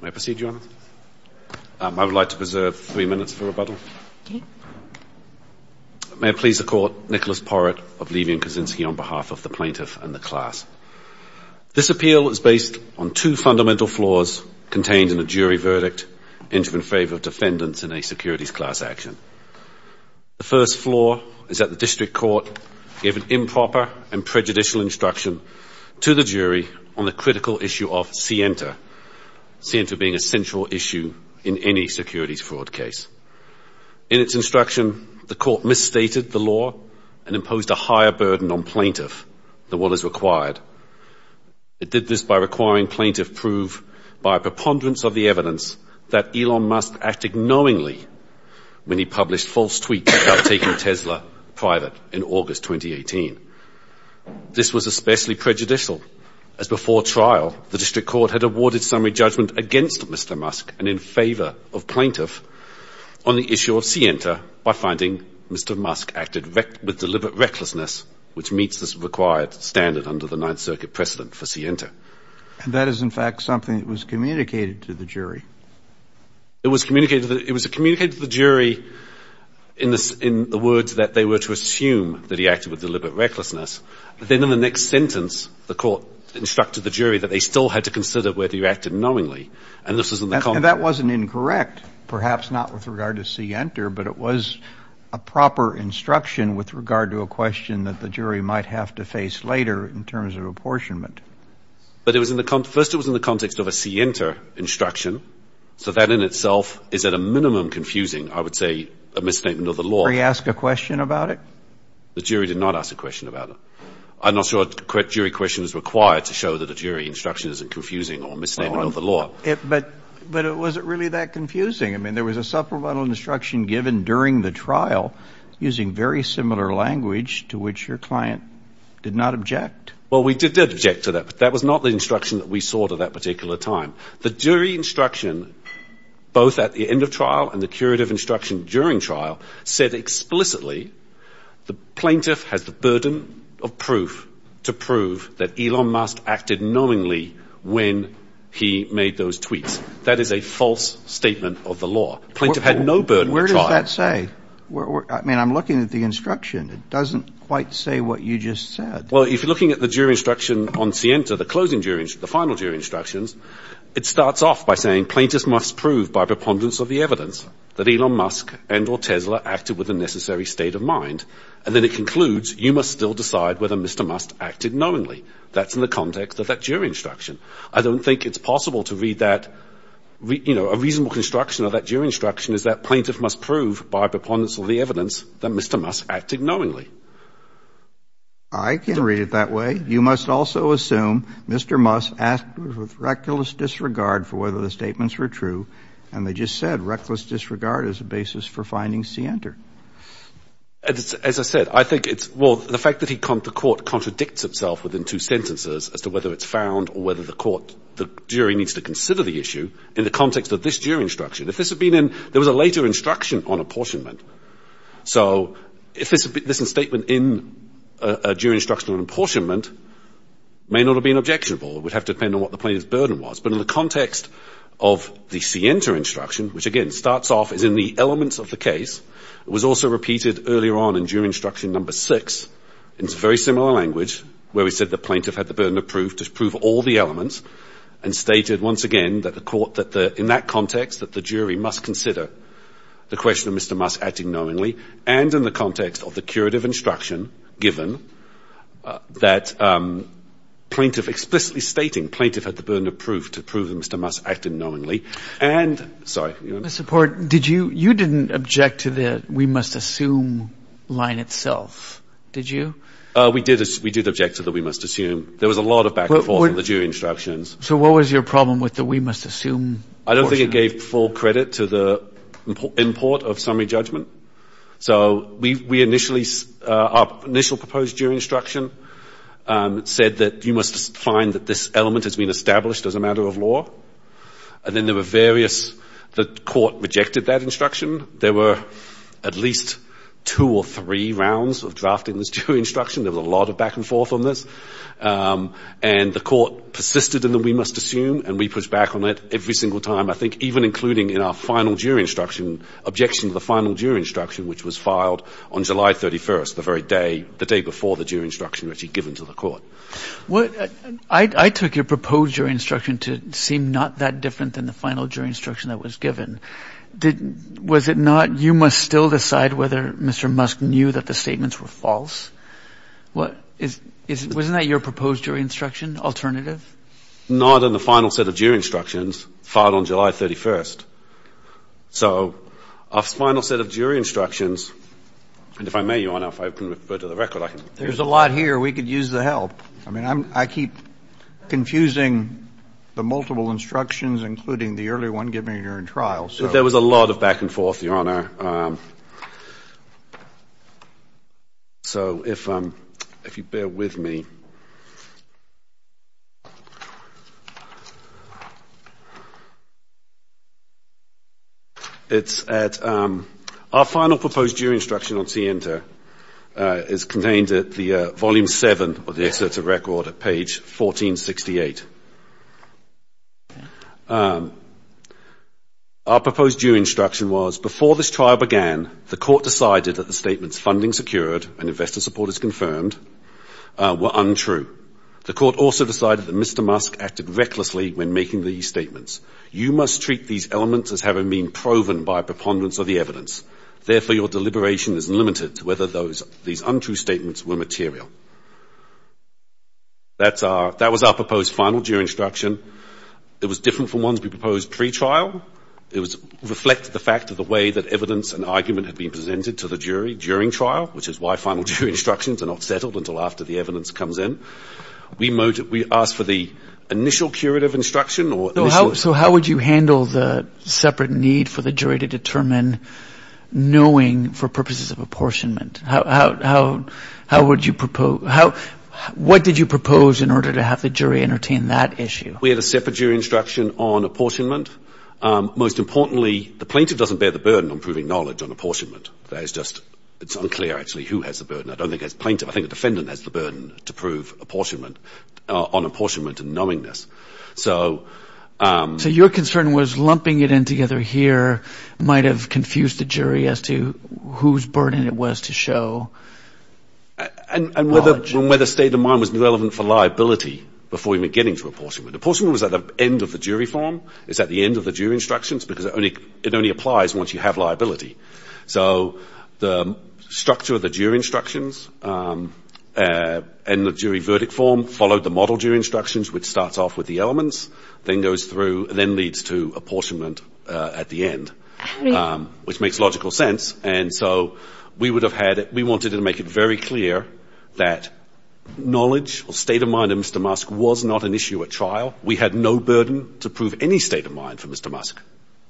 May I proceed, Your Honour? I would like to preserve three minutes for rebuttal. May I please the Court, Nicholas Porrett of Levy & Kosinski on behalf of the plaintiff and the class. This appeal is based on two fundamental flaws contained in a jury verdict in favour of defendants in a securities class action. The first flaw is that the District Court gave an improper and prejudicial instruction to the jury on the critical issue of Sienta, Sienta being a central issue in any securities fraud case. In its instruction, the Court misstated the law and imposed a higher burden on plaintiff than what is required. It did this by requiring plaintiff prove by preponderance of the evidence that Elon Musk acted knowingly when he published false tweets about taking Tesla private in August 2018. This was especially prejudicial as before trial, the District Court had awarded summary judgment against Mr. Musk and in favour of plaintiff on the issue of Sienta by finding Mr. Musk acted with deliberate recklessness, which meets this required standard under the Ninth Circuit precedent for Sienta. And that is, in fact, something that was communicated to the jury. It was communicated to the jury in the words that they were to assume that he acted with deliberate recklessness. Then in the next sentence, the Court instructed the jury that they still had to consider whether he acted knowingly. And that wasn't incorrect, perhaps not with regard to Sienta, but it was a proper instruction with regard to a question that the jury might have to face later in terms of apportionment. But first it was in the context of a Sienta instruction. So that in itself is at a minimum confusing, I would say, a misstatement of the law. Did he ask a question about it? The jury did not ask a question about it. I'm not sure a jury question is required to show that a jury instruction isn't confusing or a misstatement of the law. But it wasn't really that confusing. I mean, there was a supplemental instruction given during the trial using very similar language to which your client did not object. Well, we did object to that, but that was not the instruction that we saw at that particular time. The jury instruction both at the end of trial and the curative instruction during trial said explicitly the plaintiff has the burden of proof to prove that Elon Musk acted knowingly when he made those tweets. That is a false statement of the law. Plaintiff had no burden of trial. Where does that say? I mean, I'm looking at the instruction. It doesn't quite say what you just said. Well, if you're looking at the jury instruction on Sienta, the closing jury instruction, the final jury instructions, it starts off by saying plaintiff must prove by preponderance of the evidence that Elon Musk and or Tesla acted with the necessary state of mind. And then it concludes you must still decide whether Mr. Musk acted knowingly. That's in the context of that jury instruction. I don't think it's possible to read that, you know, a reasonable construction of that jury instruction is that plaintiff must prove by preponderance of the evidence that Mr. Musk acted knowingly. I can read it that way. You must also assume Mr. Musk acted with reckless disregard for whether the statements were true. And they just said reckless disregard as a basis for finding Sienta. As I said, I think it's well, the fact that he can't, the court contradicts itself within two sentences as to whether it's found or whether the court, the jury needs to consider the issue in the context of this jury instruction. If this had been in, there was a later instruction on apportionment. So if this is a statement in a jury instruction on apportionment, may not have been objectionable. It would have to depend on what the plaintiff's burden was. But in the context of the Sienta instruction, which again starts off as in the elements of the case, it was also repeated earlier on in jury instruction number six. It's very similar language where we said the plaintiff had the burden of proof to prove all the elements and stated once again that the court, that in that context that the jury must consider the question of Mr. Musk acting knowingly. And in the context of the curative instruction given that plaintiff explicitly stating plaintiff had the burden of proof to prove that Mr. Musk acted knowingly. Mr. Port, you didn't object to the we must assume line itself, did you? We did object to the we must assume. There was a lot of back and forth in the jury instructions. So what was your problem with the we must assume portion? I don't think it gave full credit to the import of summary judgment. So we initially, our initial proposed jury instruction said that you must find that this element has been established as a matter of law. And then there were various, the court rejected that instruction. There were at least two or three rounds of drafting this jury instruction. There was a lot of back and forth on this. And the court persisted in the we must assume and we pushed back on it every single time, I think, even including in our final jury instruction, objection to the final jury instruction, which was filed on July 31st, the very day, the day before the jury instruction was actually given to the court. I took your proposed jury instruction to seem not that different than the final jury instruction that was given. Was it not you must still decide whether Mr. Musk knew that the statements were false? Wasn't that your proposed jury instruction alternative? Not in the final set of jury instructions filed on July 31st. So our final set of jury instructions, and if I may, Your Honor, if I can refer to the record, I can. There's a lot here. We could use the help. I mean, I keep confusing the multiple instructions, including the early one, given you're in trial. There was a lot of back and forth, Your Honor. So if you bear with me, it's at our final proposed jury instruction on CENTER is contained at the Volume 7 of the Excerpt of Record at page 1468. Our proposed jury instruction was before this trial began, the court decided that the statements funding secured and investor support is confirmed were untrue. The court also decided that Mr. Musk acted recklessly when making these statements. You must treat these elements as having been proven by a preponderance of the evidence. Therefore, your deliberation is limited to whether these untrue statements were material. That was our proposed final jury instruction. It was different from ones we proposed pre-trial. It reflected the fact of the way that evidence and argument had been presented to the jury during trial, which is why final jury instructions are not settled until after the evidence comes in. We asked for the initial curative instruction. So how would you handle the separate need for the jury to determine knowing for purposes of apportionment? What did you propose in order to have the jury entertain that issue? We had a separate jury instruction on apportionment. The plaintiff does not bear the burden of proving knowledge on apportionment. It is unclear who has the burden. So your concern was lumping it in together here might have confused the jury as to whose burden it was to show knowledge. And whether state of mind was relevant for liability before even getting to apportionment. Apportionment was at the end of the jury form. It's at the end of the jury instructions because it only applies once you have liability. So the structure of the jury instructions and the jury verdict form followed the model jury instructions, which starts off with the elements, then goes through and then leads to apportionment at the end, which makes logical sense. And so we wanted to make it very clear that knowledge or state of mind of Mr. Musk was not an issue at trial. We had no burden to prove any state of mind for Mr. Musk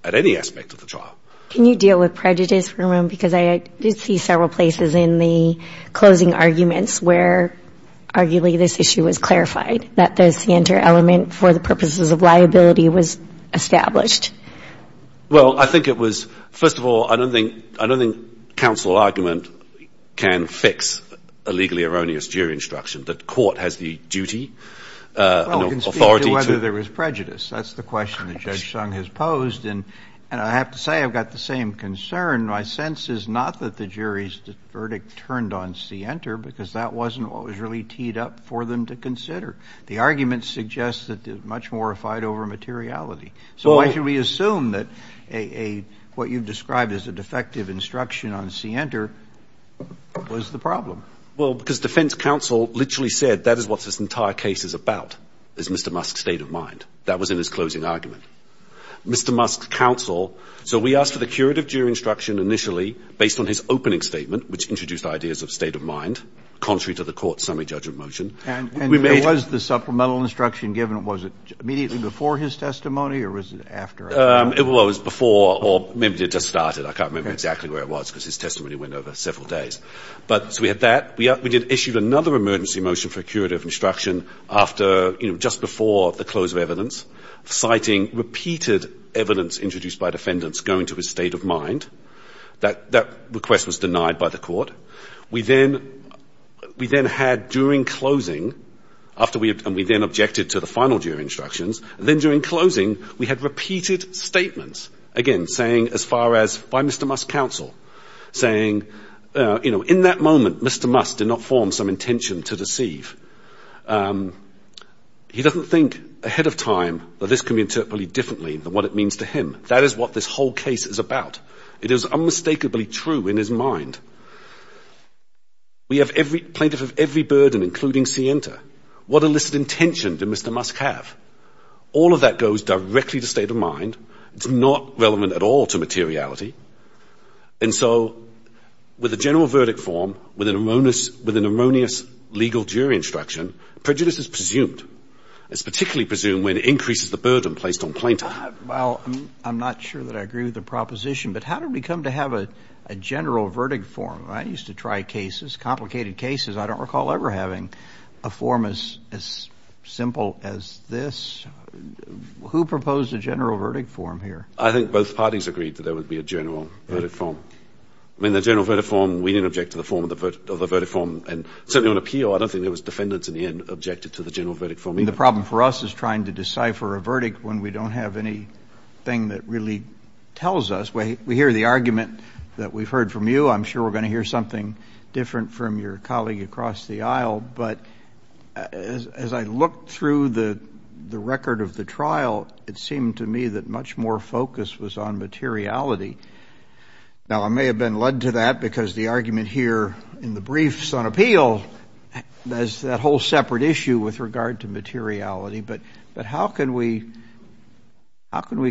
at any aspect of the trial. Can you deal with prejudice, because I did see several places in the closing arguments where arguably this issue was clarified, that the center element for the purposes of liability was established. Well, I think it was first of all, I don't think I don't think counsel argument can fix a legally erroneous jury instruction. The court has the duty. Whether there was prejudice, that's the question that Judge Sung has posed. And I have to say, I've got the same concern. My sense is not that the jury's verdict turned on Center because that wasn't what was really teed up for them to consider. The argument suggests that there's much more fight over materiality. So why should we assume that what you've described as a defective instruction on Center was the problem? Well, because defense counsel literally said that is what this entire case is about, is Mr. Musk's state of mind. That was in his closing argument. Mr. Musk's counsel. So we asked for the curative jury instruction initially based on his opening statement, which introduced ideas of state of mind, contrary to the court's summary judgment motion. And there was the supplemental instruction given. Was it immediately before his testimony or was it after? It was before or maybe it just started. I can't remember exactly where it was because his testimony went over several days. But so we had that. We did issue another emergency motion for curative instruction after, you know, just before the close of evidence, citing repeated evidence introduced by defendants going to his state of mind. That request was denied by the court. We then had during closing, and we then objected to the final jury instructions, and then during closing, we had repeated statements, again, saying as far as by Mr. Musk's counsel, saying, you know, in that moment, Mr. Musk did not form some intention to deceive. He doesn't think ahead of time that this can be interpreted differently than what it means to him. That is what this whole case is about. It is unmistakably true in his mind. We have every plaintiff of every burden, including Sienta. What illicit intention did Mr. Musk have? All of that goes directly to state of mind. It's not relevant at all to materiality. And so with a general verdict form, with an erroneous legal jury instruction, prejudice is presumed. It's particularly presumed when it increases the burden placed on plaintiff. Well, I'm not sure that I agree with the proposition. But how did we come to have a general verdict form? I used to try cases, complicated cases. I don't recall ever having a form as simple as this. Who proposed a general verdict form here? I think both parties agreed that there would be a general verdict form. I mean, the general verdict form, we didn't object to the form of the verdict form. And certainly on appeal, I don't think there was defendants in the end objected to the general verdict form either. The problem for us is trying to decipher a verdict when we don't have anything that really tells us. We hear the argument that we've heard from you. I'm sure we're going to hear something different from your colleague across the aisle. But as I looked through the record of the trial, it seemed to me that much more focus was on materiality. Well, I may have been led to that because the argument here in the briefs on appeal has that whole separate issue with regard to materiality. But how can we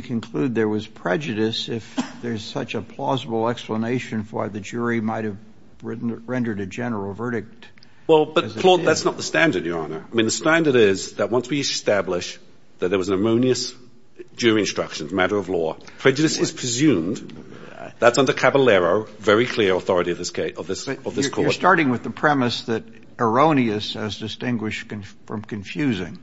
conclude there was prejudice if there's such a plausible explanation for why the jury might have rendered a general verdict? Well, but, Claude, that's not the standard, Your Honor. I mean, the standard is that once we establish that there was an erroneous jury instruction, matter of law, prejudice is presumed. That's under Caballero, very clear authority of this court. But you're starting with the premise that erroneous has distinguished from confusing.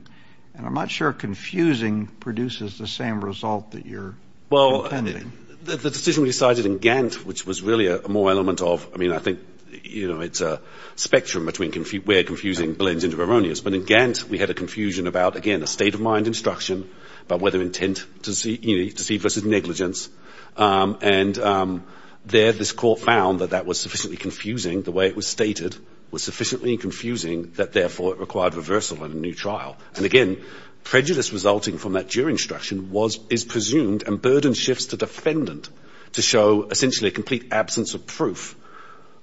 And I'm not sure confusing produces the same result that you're intending. Well, the decision we decided in Gantt, which was really a moral element of, I mean, I think it's a spectrum between where confusing blends into erroneous. But in Gantt, we had a confusion about, again, a state of mind instruction about whether intent, you know, deceit versus negligence. And there this court found that that was sufficiently confusing, the way it was stated, was sufficiently confusing that, therefore, it required reversal in a new trial. And, again, prejudice resulting from that jury instruction is presumed and burden shifts to defendant to show, essentially, a complete absence of proof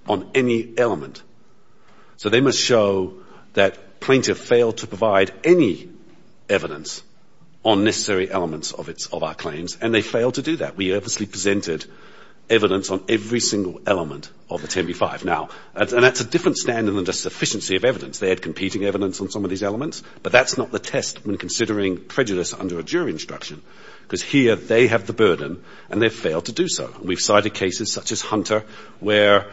on any element. So they must show that plaintiff failed to provide any evidence on necessary elements of our claims, and they failed to do that. We purposely presented evidence on every single element of the 10b-5. Now, and that's a different standard than just sufficiency of evidence. They had competing evidence on some of these elements. But that's not the test when considering prejudice under a jury instruction because here they have the burden and they've failed to do so. We've cited cases such as Hunter where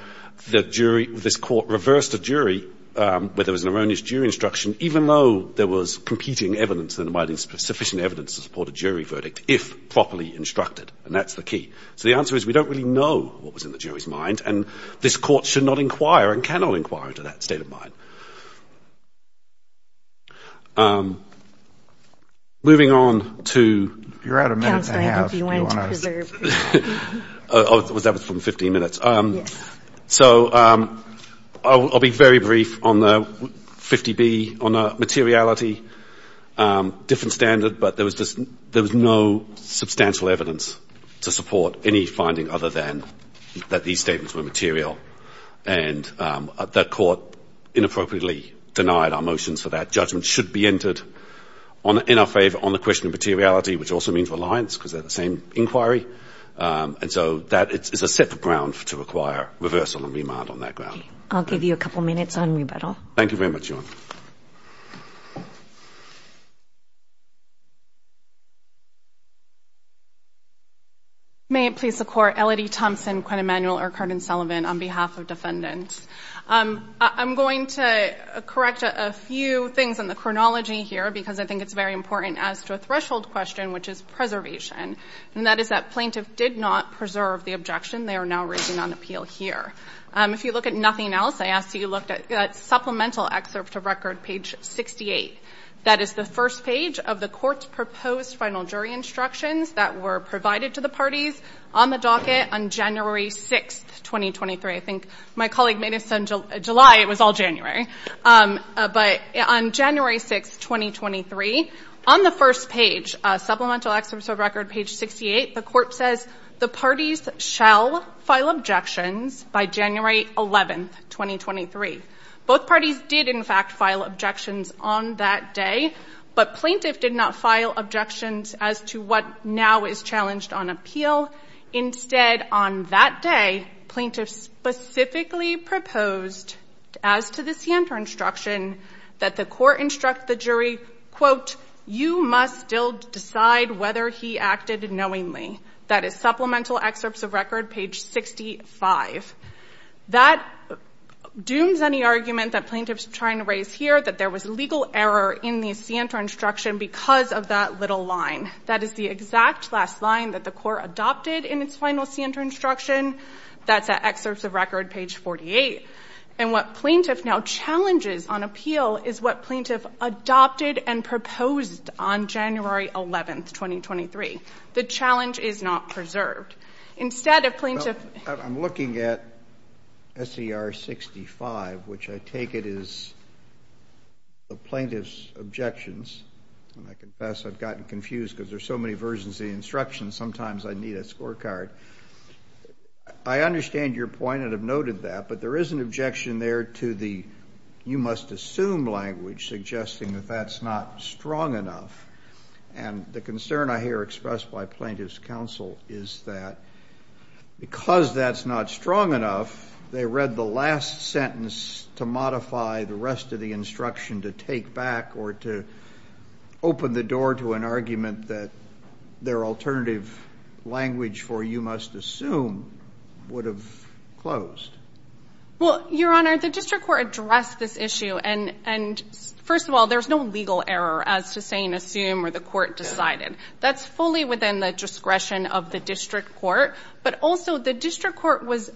the jury, this court reversed a jury where there was an erroneous jury instruction, even though there was competing evidence and sufficient evidence to support a jury verdict, if properly instructed. And that's the key. So the answer is we don't really know what was in the jury's mind, and this court should not inquire and cannot inquire into that state of mind. Moving on to... You're out a minute and a half, if you want to... That was from 15 minutes. Yes. So I'll be very brief on the 50b, on the materiality, different standard, but there was no substantial evidence to support any finding other than that these statements were material. And that court inappropriately denied our motions for that. Judgment should be entered in our favour on the question of materiality, which also means reliance because they're the same inquiry. And so that is a set of grounds to require reversal and remand on that ground. Okay. I'll give you a couple minutes on rebuttal. Thank you very much, Joanne. May it please the Court. Elodie Thompson, Quinn Emanuel, or Carden Sullivan on behalf of defendants. I'm going to correct a few things on the chronology here because I think it's very important as to a threshold question, which is preservation. And that is that plaintiff did not preserve the objection. They are now raising on appeal here. If you look at nothing else, I ask that you look at supplemental excerpt of record, page 68. That is the first page of the court's proposed final jury instructions that were provided to the parties on the docket on January 6, 2023. I think my colleague made this in July. It was all January. But on January 6, 2023, on the first page, supplemental excerpt of record, page 68, the court says the parties shall file objections by January 11, 2023. Both parties did, in fact, file objections on that day, but plaintiff did not file objections as to what now is challenged on appeal. Instead, on that day, plaintiffs specifically proposed as to the scienter instruction that the court instruct the jury, quote, you must still decide whether he acted knowingly. That is supplemental excerpts of record, page 65. That dooms any argument that plaintiffs are trying to raise here that there was legal error in the scienter instruction because of that little line. That is the exact last line that the court adopted in its final scienter instruction. That's at excerpts of record, page 48. And what plaintiff now challenges on appeal is what plaintiff adopted and proposed on January 11, 2023. The challenge is not preserved. Instead, a plaintiff ---- I'm looking at SER 65, which I take it is the plaintiff's objections. And I confess I've gotten confused because there are so many versions of the instructions. Sometimes I need a scorecard. I understand your point and have noted that, but there is an objection there to the you must assume language suggesting that that's not strong enough. And the concern I hear expressed by plaintiff's counsel is that because that's not strong enough, they read the last sentence to modify the rest of the instruction to take back or to open the door to an argument that their alternative language for you must assume would have closed. Well, Your Honor, the district court addressed this issue. And, first of all, there's no legal error as to saying assume or the court decided. That's fully within the discretion of the district court. But also the district court was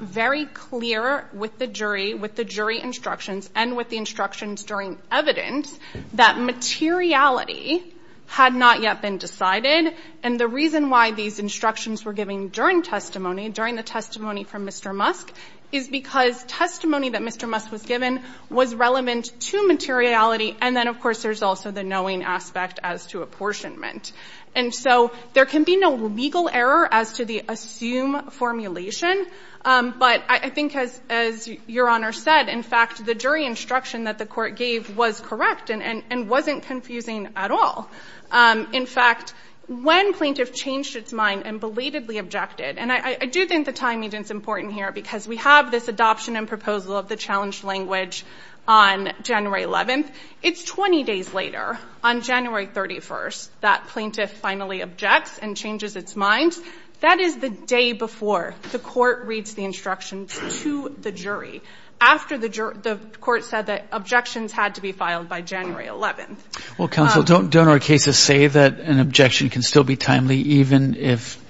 very clear with the jury, with the jury instructions, and with the instructions during evidence that materiality had not yet been decided. And the reason why these instructions were given during testimony, during the testimony from Mr. Musk, is because testimony that Mr. Musk was given was relevant to materiality. And then, of course, there's also the knowing aspect as to apportionment. And so there can be no legal error as to the assume formulation. But I think, as Your Honor said, in fact, the jury instruction that the court gave was correct and wasn't confusing at all. In fact, when plaintiff changed its mind and belatedly objected, and I do think the timing is important here because we have this adoption and proposal of the challenge language on January 11th. It's 20 days later, on January 31st, that plaintiff finally objects and changes its mind. That is the day before the court reads the instructions to the jury, after the court said that objections had to be filed by January 11th. Well, counsel, don't our cases say that an objection can still be timely even if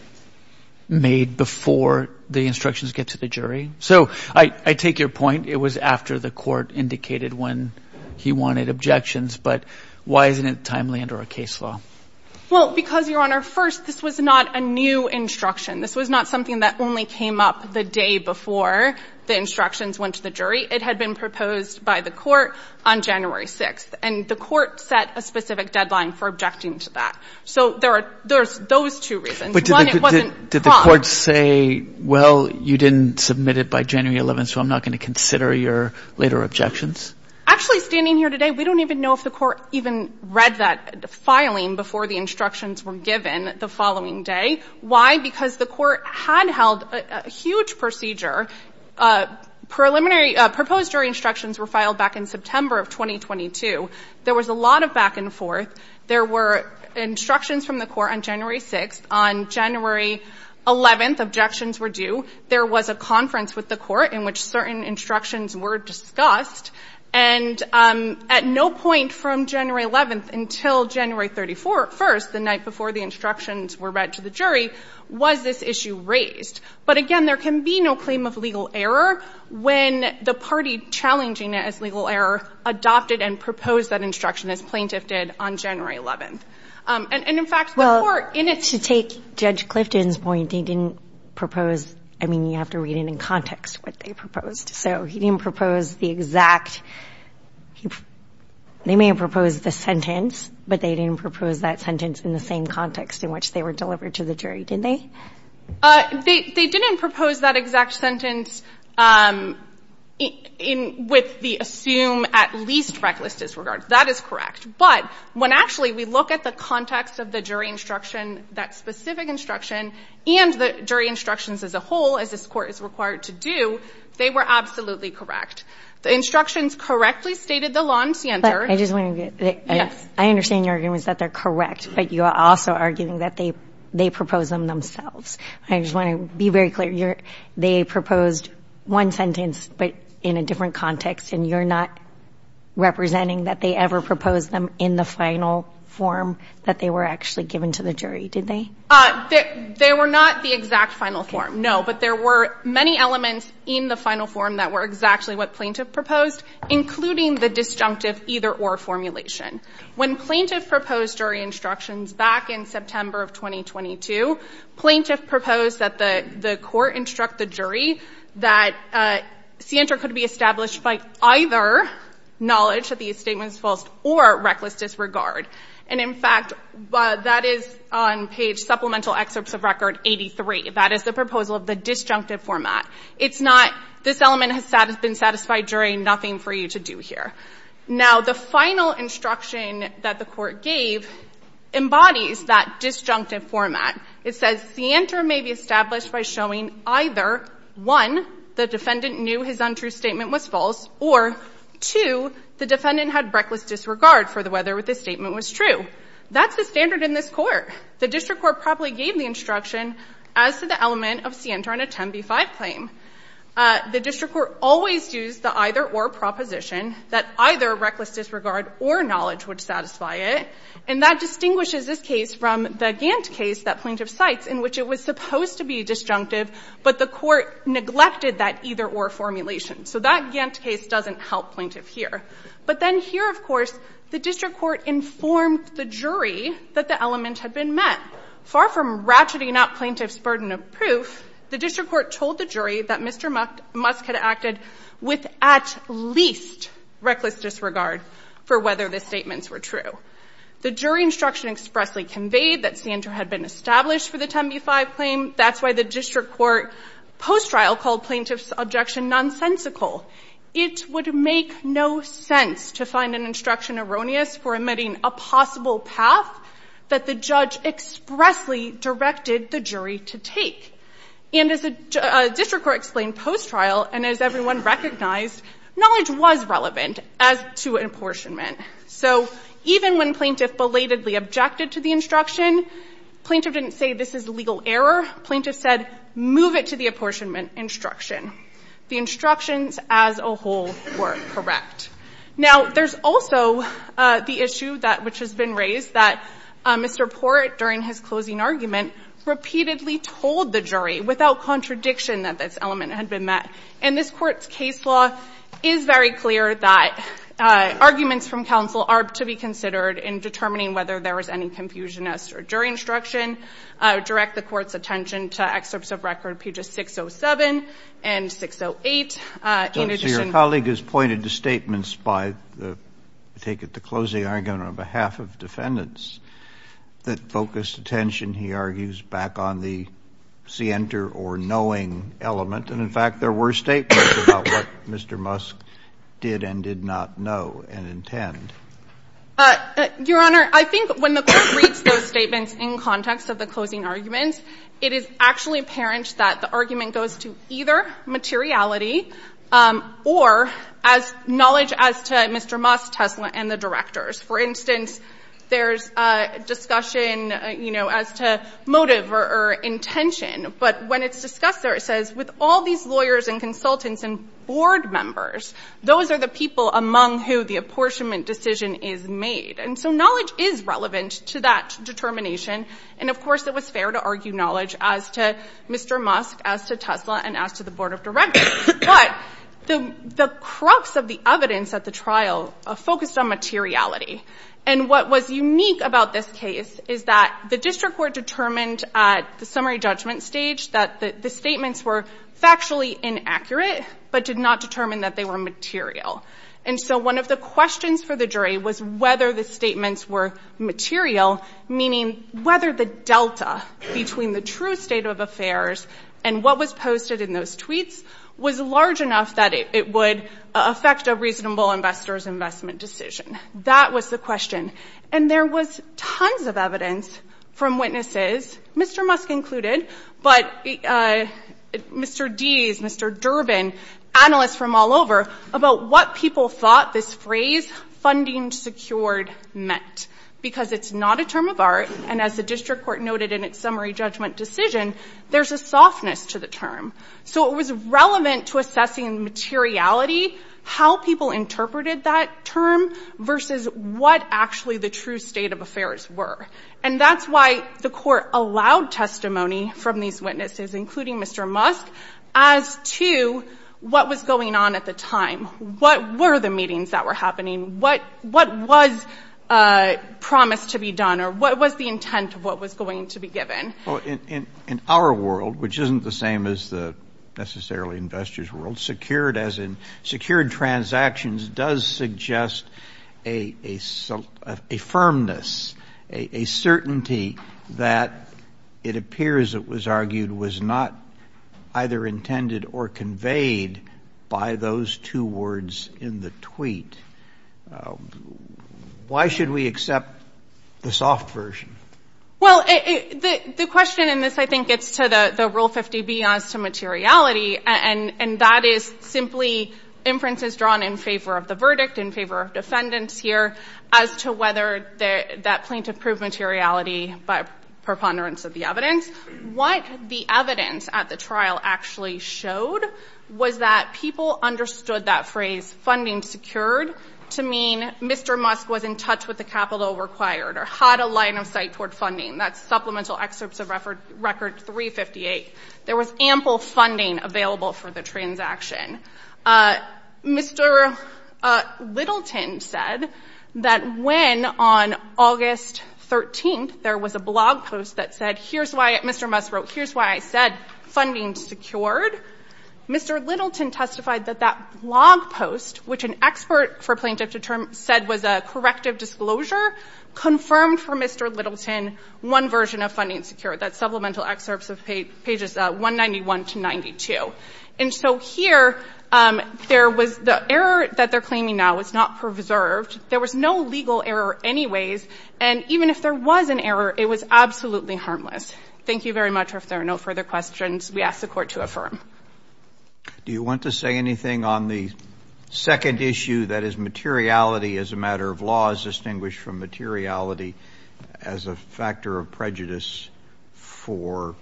made before the instructions get to the jury? So I take your point. It was after the court indicated when he wanted objections. But why isn't it timely under our case law? Well, because, Your Honor, first, this was not a new instruction. This was not something that only came up the day before the instructions went to the jury. It had been proposed by the court on January 6th. And the court set a specific deadline for objecting to that. So there's those two reasons. One, it wasn't prompt. But did the court say, well, you didn't submit it by January 11th, so I'm not going to consider your later objections? Actually, standing here today, we don't even know if the court even read that filing before the instructions were given the following day. Why? Because the court had held a huge procedure. Preliminary ‑‑ proposed jury instructions were filed back in September of 2022. There was a lot of back and forth. There were instructions from the court on January 6th. On January 11th, objections were due. There was a conference with the court in which certain instructions were discussed. And at no point from January 11th until January 31st, the night before the instructions were read to the jury, was this issue raised. But, again, there can be no claim of legal error when the party challenging it as legal error adopted and proposed that instruction as plaintiff did on January 11th. And, in fact, the court in its ‑‑ Well, to take Judge Clifton's point, he didn't propose ‑‑ I mean, you have to read it in context what they proposed. So he didn't propose the exact ‑‑ they may have proposed the sentence, but they didn't propose that sentence in the same context in which they were delivered to the jury, did they? They didn't propose that exact sentence with the assume at least reckless disregard. That is correct. But when, actually, we look at the context of the jury instruction, that specific instruction, and the jury instructions as a whole, as this Court is required to do, they were absolutely correct. The instructions correctly stated the law in center. I just want to get ‑‑ Yes. I understand your argument is that they're correct, but you are also arguing that they proposed them themselves. I just want to be very clear. They proposed one sentence, but in a different context, and you're not representing that they ever proposed them in the final form that they were actually given to the jury, did they? They were not the exact final form, no. But there were many elements in the final form that were exactly what plaintiff proposed, including the disjunctive either‑or formulation. When plaintiff proposed jury instructions back in September of 2022, plaintiff proposed that the court instruct the jury that center could be established by either knowledge that the statement is false or reckless disregard. And, in fact, that is on page supplemental excerpts of record 83. That is the proposal of the disjunctive format. It's not this element has been satisfied jury, nothing for you to do here. Now, the final instruction that the court gave embodies that disjunctive format. It says center may be established by showing either, one, the defendant knew his untrue statement was false, or, two, the defendant had reckless disregard for whether the statement was true. That's the standard in this court. The district court probably gave the instruction as to the element of center in a 10B5 claim. The district court always used the either‑or proposition that either reckless disregard or knowledge would satisfy it. And that distinguishes this case from the Gantt case that plaintiff cites in which it was supposed to be disjunctive, but the court neglected that either‑or formulation. So that Gantt case doesn't help plaintiff here. But then here, of course, the district court informed the jury that the element had been met. Far from ratcheting up plaintiff's burden of proof, the district court told the jury that Mr. Musk had acted with at least reckless disregard for whether the statements were true. The jury instruction expressly conveyed that center had been established for the 10B5 claim. That's why the district court post trial called plaintiff's objection nonsensical. It would make no sense to find an instruction erroneous for emitting a possible path that the judge expressly directed the jury to take. And as the district court explained post trial, and as everyone recognized, knowledge was relevant as to apportionment. So even when plaintiff belatedly objected to the instruction, plaintiff didn't say this is legal error. Plaintiff said, move it to the apportionment instruction. The instructions as a whole were correct. Now, there's also the issue that ‑‑ which has been raised, that Mr. Port, during his closing argument, repeatedly told the jury without contradiction that this element had been met. And this court's case law is very clear that arguments from counsel are to be considered in determining whether there was any confusion as to a jury instruction. I would direct the Court's attention to excerpts of record pages 607 and 608. In addition ‑‑ Roberts, your colleague has pointed to statements by, I take it, the closing argument on behalf of defendants that focused attention, he argues, back on the scienter or knowing element. And, in fact, there were statements about what Mr. Musk did and did not know and intend. Your Honor, I think when the Court reads those statements in context of the closing arguments, it is actually apparent that the argument goes to either materiality or as knowledge as to Mr. Musk, Tesla, and the directors. For instance, there's discussion, you know, as to motive or intention. But when it's discussed there, it says, with all these lawyers and consultants and board members, those are the people among who the apportionment decision is made. And so knowledge is relevant to that determination. And, of course, it was fair to argue knowledge as to Mr. Musk, as to Tesla, and as to the board of directors. But the crux of the evidence at the trial focused on materiality. And what was unique about this case is that the district court determined at the summary judgment stage that the statements were factually inaccurate but did not determine that they were material. And so one of the questions for the jury was whether the statements were material, meaning whether the delta between the true state of affairs and what was posted in those tweets was large enough that it would affect a reasonable investor's investment decision. That was the question. And there was tons of evidence from witnesses, Mr. Musk included, but Mr. Deese, Mr. Durbin, analysts from all over, about what people thought this phrase, funding secured, meant. Because it's not a term of art, and as the district court noted in its summary judgment decision, there's a softness to the term. So it was relevant to assessing materiality, how people interpreted that term versus what actually the true state of affairs were. And that's why the court allowed testimony from these witnesses, including Mr. Musk, as to what was going on at the time. What were the meetings that were happening? What was promised to be done? Or what was the intent of what was going to be given? Well, in our world, which isn't the same as the necessarily investors' world, secured as in secured transactions does suggest a firmness, a certainty that it appears it was argued was not either intended or conveyed by those two words in the tweet. Why should we accept the soft version? Well, the question in this, I think, gets to the Rule 50B as to materiality, and that is simply inferences drawn in favor of the verdict, in favor of defendants here, as to whether that plaintiff proved materiality by preponderance of the evidence. What the evidence at the trial actually showed was that people understood that phrase funding secured to mean Mr. Musk was in touch with the capital required or had a line of sight toward funding. That's Supplemental Excerpts of Record 358. There was ample funding available for the transaction. Mr. Littleton said that when on August 13th there was a blog post that said, Mr. Musk wrote, here's why I said funding secured, Mr. Littleton testified that that blog post, which an expert for plaintiff said was a corrective disclosure, confirmed for Mr. Littleton one version of funding secured, that's Supplemental Excerpts of Pages 191 to 92. And so here there was the error that they're claiming now is not preserved. There was no legal error anyways, and even if there was an error, it was absolutely harmless. Thank you very much. If there are no further questions, we ask the Court to affirm. Do you want to say anything on the second issue, that is materiality as a matter of law is distinguished from materiality as a factor of prejudice for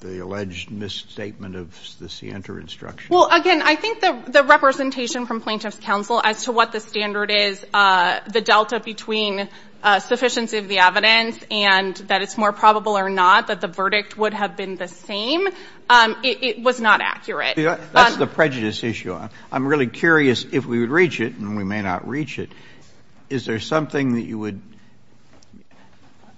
the alleged misstatement of the scienter instruction? Well, again, I think the representation from Plaintiff's Counsel as to what the standard is, the delta between sufficiency of the evidence and that it's more probable or not that the verdict would have been the same, it was not accurate. That's the prejudice issue. I'm really curious if we would reach it, and we may not reach it, is there something that you would,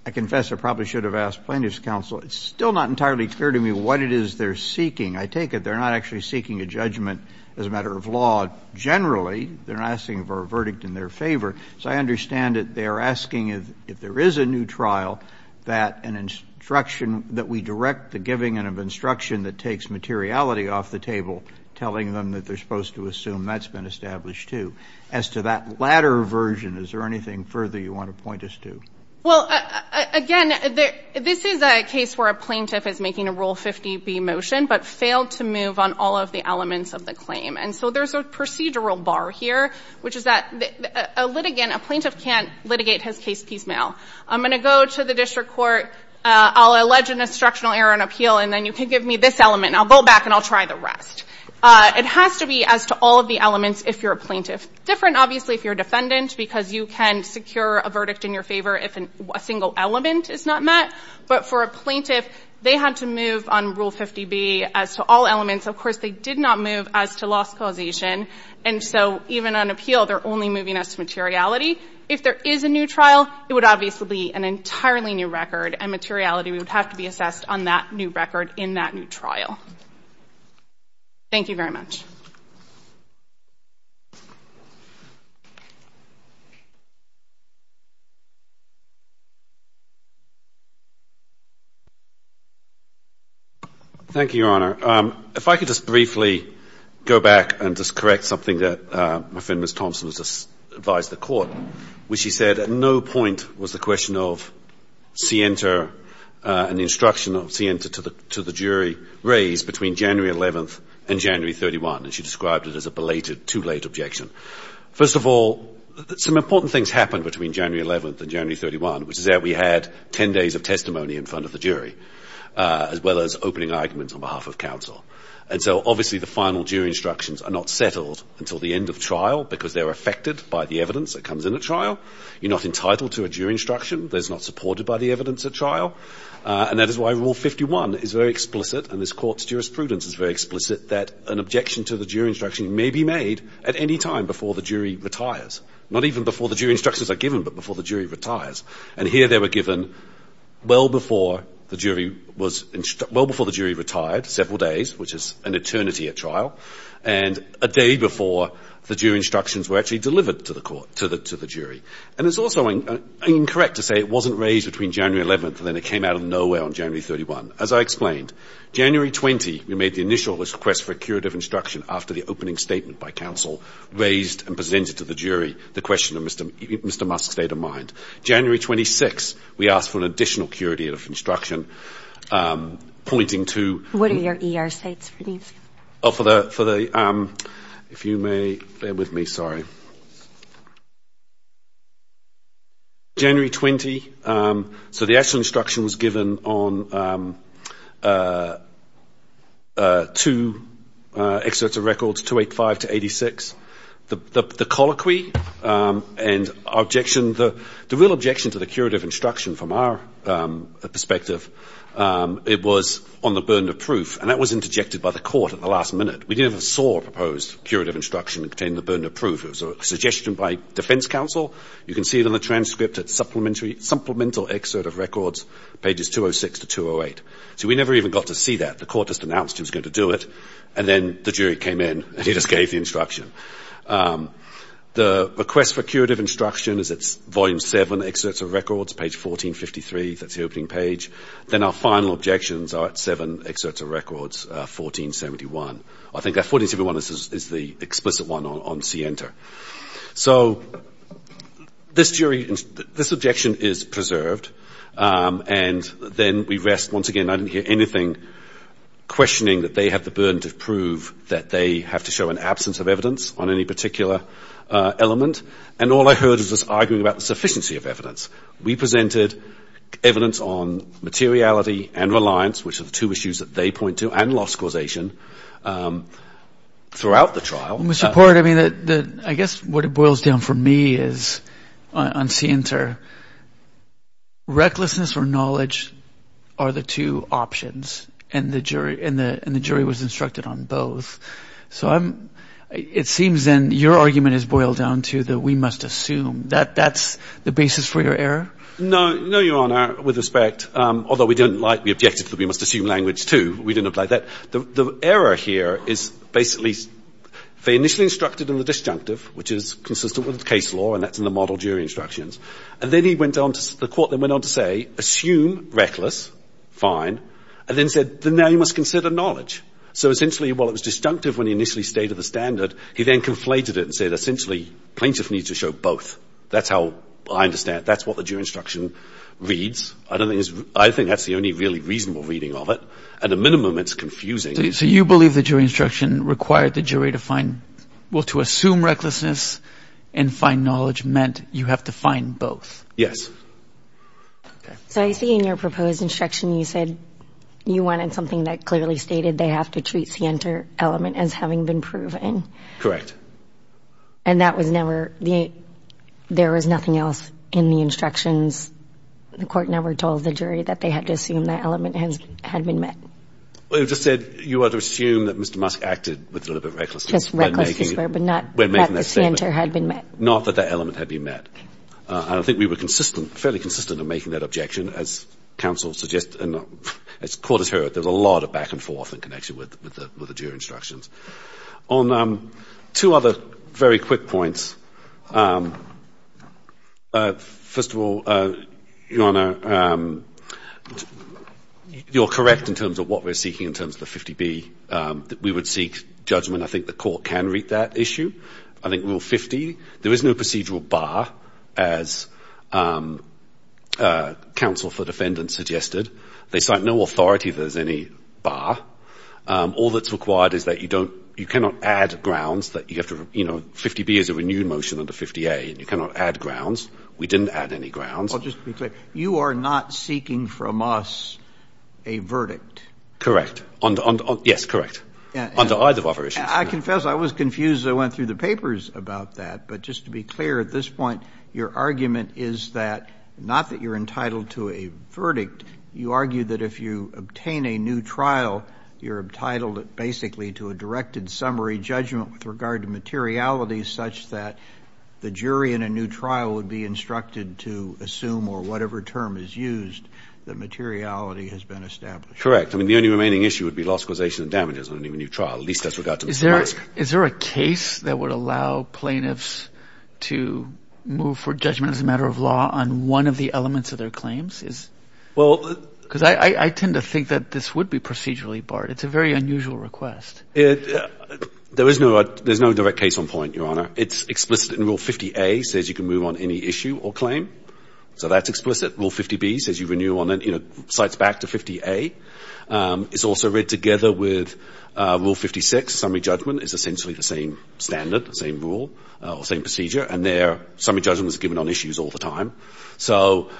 I confess I probably should have asked Plaintiff's Counsel. It's still not entirely clear to me what it is they're seeking. I take it they're not actually seeking a judgment as a matter of law generally. They're asking for a verdict in their favor. So I understand that they are asking if there is a new trial that an instruction, that we direct the giving of instruction that takes materiality off the table, telling them that they're supposed to assume that's been established too. As to that latter version, is there anything further you want to point us to? Well, again, this is a case where a plaintiff is making a Rule 50B motion but failed to move on all of the elements of the claim. And so there's a procedural bar here, which is that a litigant, a plaintiff can't litigate his case piecemeal. I'm going to go to the district court. I'll allege an instructional error in appeal, and then you can give me this element, and I'll go back and I'll try the rest. It has to be as to all of the elements if you're a plaintiff. Different, obviously, if you're a defendant, because you can secure a verdict in your favor if a single element is not met. But for a plaintiff, they had to move on Rule 50B as to all elements. Of course, they did not move as to loss causation. And so even on appeal, they're only moving us to materiality. If there is a new trial, it would obviously be an entirely new record, and materiality would have to be assessed on that new record in that new trial. Thank you very much. Thank you, Your Honor. If I could just briefly go back and just correct something that my friend, Ms. Thompson, advised the court, which she said at no point was the question of Sienta and the instruction of Sienta to the jury raised between January 11th and January 31, and she described it as a belated, too late objection. First of all, some important things happened between January 11th and January 31, which is that we had 10 days of testimony in front of the jury, as well as opening arguments on behalf of counsel. And so, obviously, the final jury instructions are not settled until the end of trial, because they're affected by the evidence that comes in at trial. You're not entitled to a jury instruction. They're not supported by the evidence at trial. And that is why Rule 51 is very explicit, and this court's jurisprudence is very explicit, that an objection to the jury instruction may be made at any time before the jury retires, not even before the jury instructions are given, but before the jury retires. And here they were given well before the jury retired, several days, which is an eternity at trial, and a day before the jury instructions were actually delivered to the jury. And it's also incorrect to say it wasn't raised between January 11th and then it came out of nowhere on January 31. As I explained, January 20, we made the initial request for a curative instruction after the opening statement by counsel raised and presented to the jury the question of Mr. Musk's state of mind. January 26, we asked for an additional curative instruction, pointing to... What are your ER states for these? Oh, for the ‑‑ if you may bear with me, sorry. January 20, so the actual instruction was given on two excerpts of records, 285 to 86. The colloquy and our objection, the real objection to the curative instruction from our perspective, it was on the burden of proof, and that was interjected by the court at the last minute. We never saw a proposed curative instruction containing the burden of proof. It was a suggestion by defense counsel. You can see it on the transcript, a supplemental excerpt of records, pages 206 to 208. So we never even got to see that. The court just announced it was going to do it, and then the jury came in, and he just gave the instruction. The request for curative instruction is at volume 7, excerpts of records, page 1453. That's the opening page. Then our final objections are at 7, excerpts of records, 1471. I think that 1471 is the explicit one on CENTER. So this jury ‑‑ this objection is preserved, and then we rest. Once again, I didn't hear anything questioning that they have the burden to prove that they have to show an absence of evidence on any particular element, and all I heard was this arguing about the sufficiency of evidence. We presented evidence on materiality and reliance, which are the two issues that they point to, and loss causation throughout the trial. Mr. Port, I mean, I guess what it boils down for me is, on CENTER, recklessness or knowledge are the two options, and the jury was instructed on both. So I'm ‑‑ it seems, then, your argument is boiled down to the we must assume. That's the basis for your error? No, Your Honor, with respect, although we didn't like the objective that we must assume language, too. We didn't apply that. The error here is basically they initially instructed in the disjunctive, which is consistent with the case law, and that's in the model jury instructions. And then he went on to ‑‑ the court then went on to say, assume reckless, fine, and then said, then now you must consider knowledge. So essentially, while it was disjunctive when he initially stated the standard, he then conflated it and said, essentially, plaintiff needs to show both. That's how I understand it. That's what the jury instruction reads. I don't think it's ‑‑ I think that's the only really reasonable reading of it. At a minimum, it's confusing. So you believe the jury instruction required the jury to find ‑‑ well, to assume recklessness and find knowledge meant you have to find both? Yes. Okay. So I see in your proposed instruction you said you wanted something that clearly stated they have to treat the center element as having been proven. Correct. And that was never ‑‑ there was nothing else in the instructions. The court never told the jury that they had to assume that element had been met. It just said you ought to assume that Mr. Musk acted with a little bit of recklessness. Just reckless this way, but not that the center had been met. Not that that element had been met. And I think we were consistent, fairly consistent in making that objection, as counsel suggests, and as the court has heard, there's a lot of back and forth in connection with the jury instructions. On two other very quick points, first of all, Your Honor, you're correct in terms of what we're seeking in terms of the 50B. We would seek judgment. I think the court can read that issue. I think Rule 50, there is no procedural bar, as counsel for defendants suggested. They cite no authority if there's any bar. All that's required is that you don't ‑‑ you cannot add grounds that you have to, you know, 50B is a renewed motion under 50A, and you cannot add grounds. We didn't add any grounds. Well, just to be clear, you are not seeking from us a verdict. Correct. Yes, correct. Under either of our issues. I confess I was confused as I went through the papers about that, but just to be clear at this point, your argument is that, not that you're entitled to a verdict, you argue that if you obtain a new trial, you're entitled basically to a directed summary judgment with regard to materiality such that the jury in a new trial would be instructed to assume or whatever term is used that materiality has been established. I mean, the only remaining issue would be loss, causation, and damages on a new trial, at least as regard to ‑‑ Is there a case that would allow plaintiffs to move for judgment as a matter of law on one of the elements of their claims? Because I tend to think that this would be procedurally barred. It's a very unusual request. There is no direct case on point, Your Honor. It's explicit in Rule 50A. It says you can move on any issue or claim. So that's explicit. Rule 50B says you renew on ‑‑ it cites back to 50A. It's also read together with Rule 56. Summary judgment is essentially the same standard, the same rule, the same procedure, and there summary judgment is given on issues all the time. So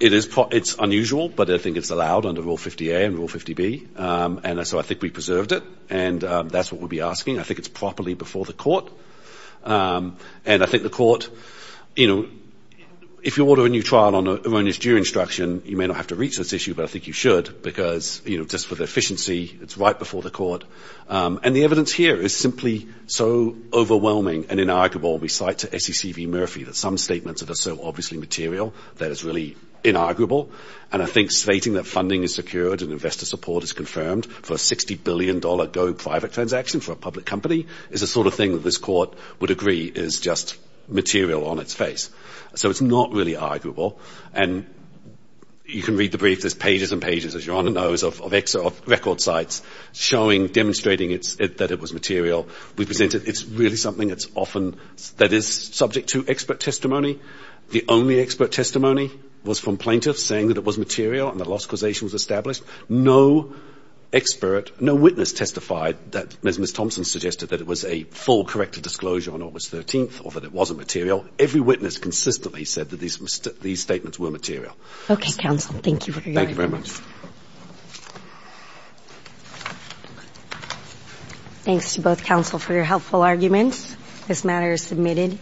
it's unusual, but I think it's allowed under Rule 50A and Rule 50B. And so I think we preserved it, and that's what we'll be asking. I think it's properly before the court. And I think the court, you know, if you order a new trial on erroneous jury instruction, you may not have to reach this issue, but I think you should, because, you know, just for the efficiency, it's right before the court. And the evidence here is simply so overwhelming and inarguable. We cite to SEC v. Murphy that some statements are so obviously material that it's really inarguable. And I think stating that funding is secured and investor support is confirmed for a $60 billion Go private transaction for a public company is the sort of thing that this court would agree is just material on its face. So it's not really arguable. And you can read the brief. There's pages and pages, as your Honor knows, of record sites showing, demonstrating that it was material. We present it. It's really something that's often ‑‑ that is subject to expert testimony. The only expert testimony was from plaintiffs saying that it was material and the loss causation was established. No expert, no witness testified that Ms. Thompson suggested that it was a full corrective disclosure on August 13th or that it wasn't material. Every witness consistently said that these statements were material. Okay, counsel. Thank you for your arguments. Thank you very much. Thanks to both counsel for your helpful arguments. This matter is submitted.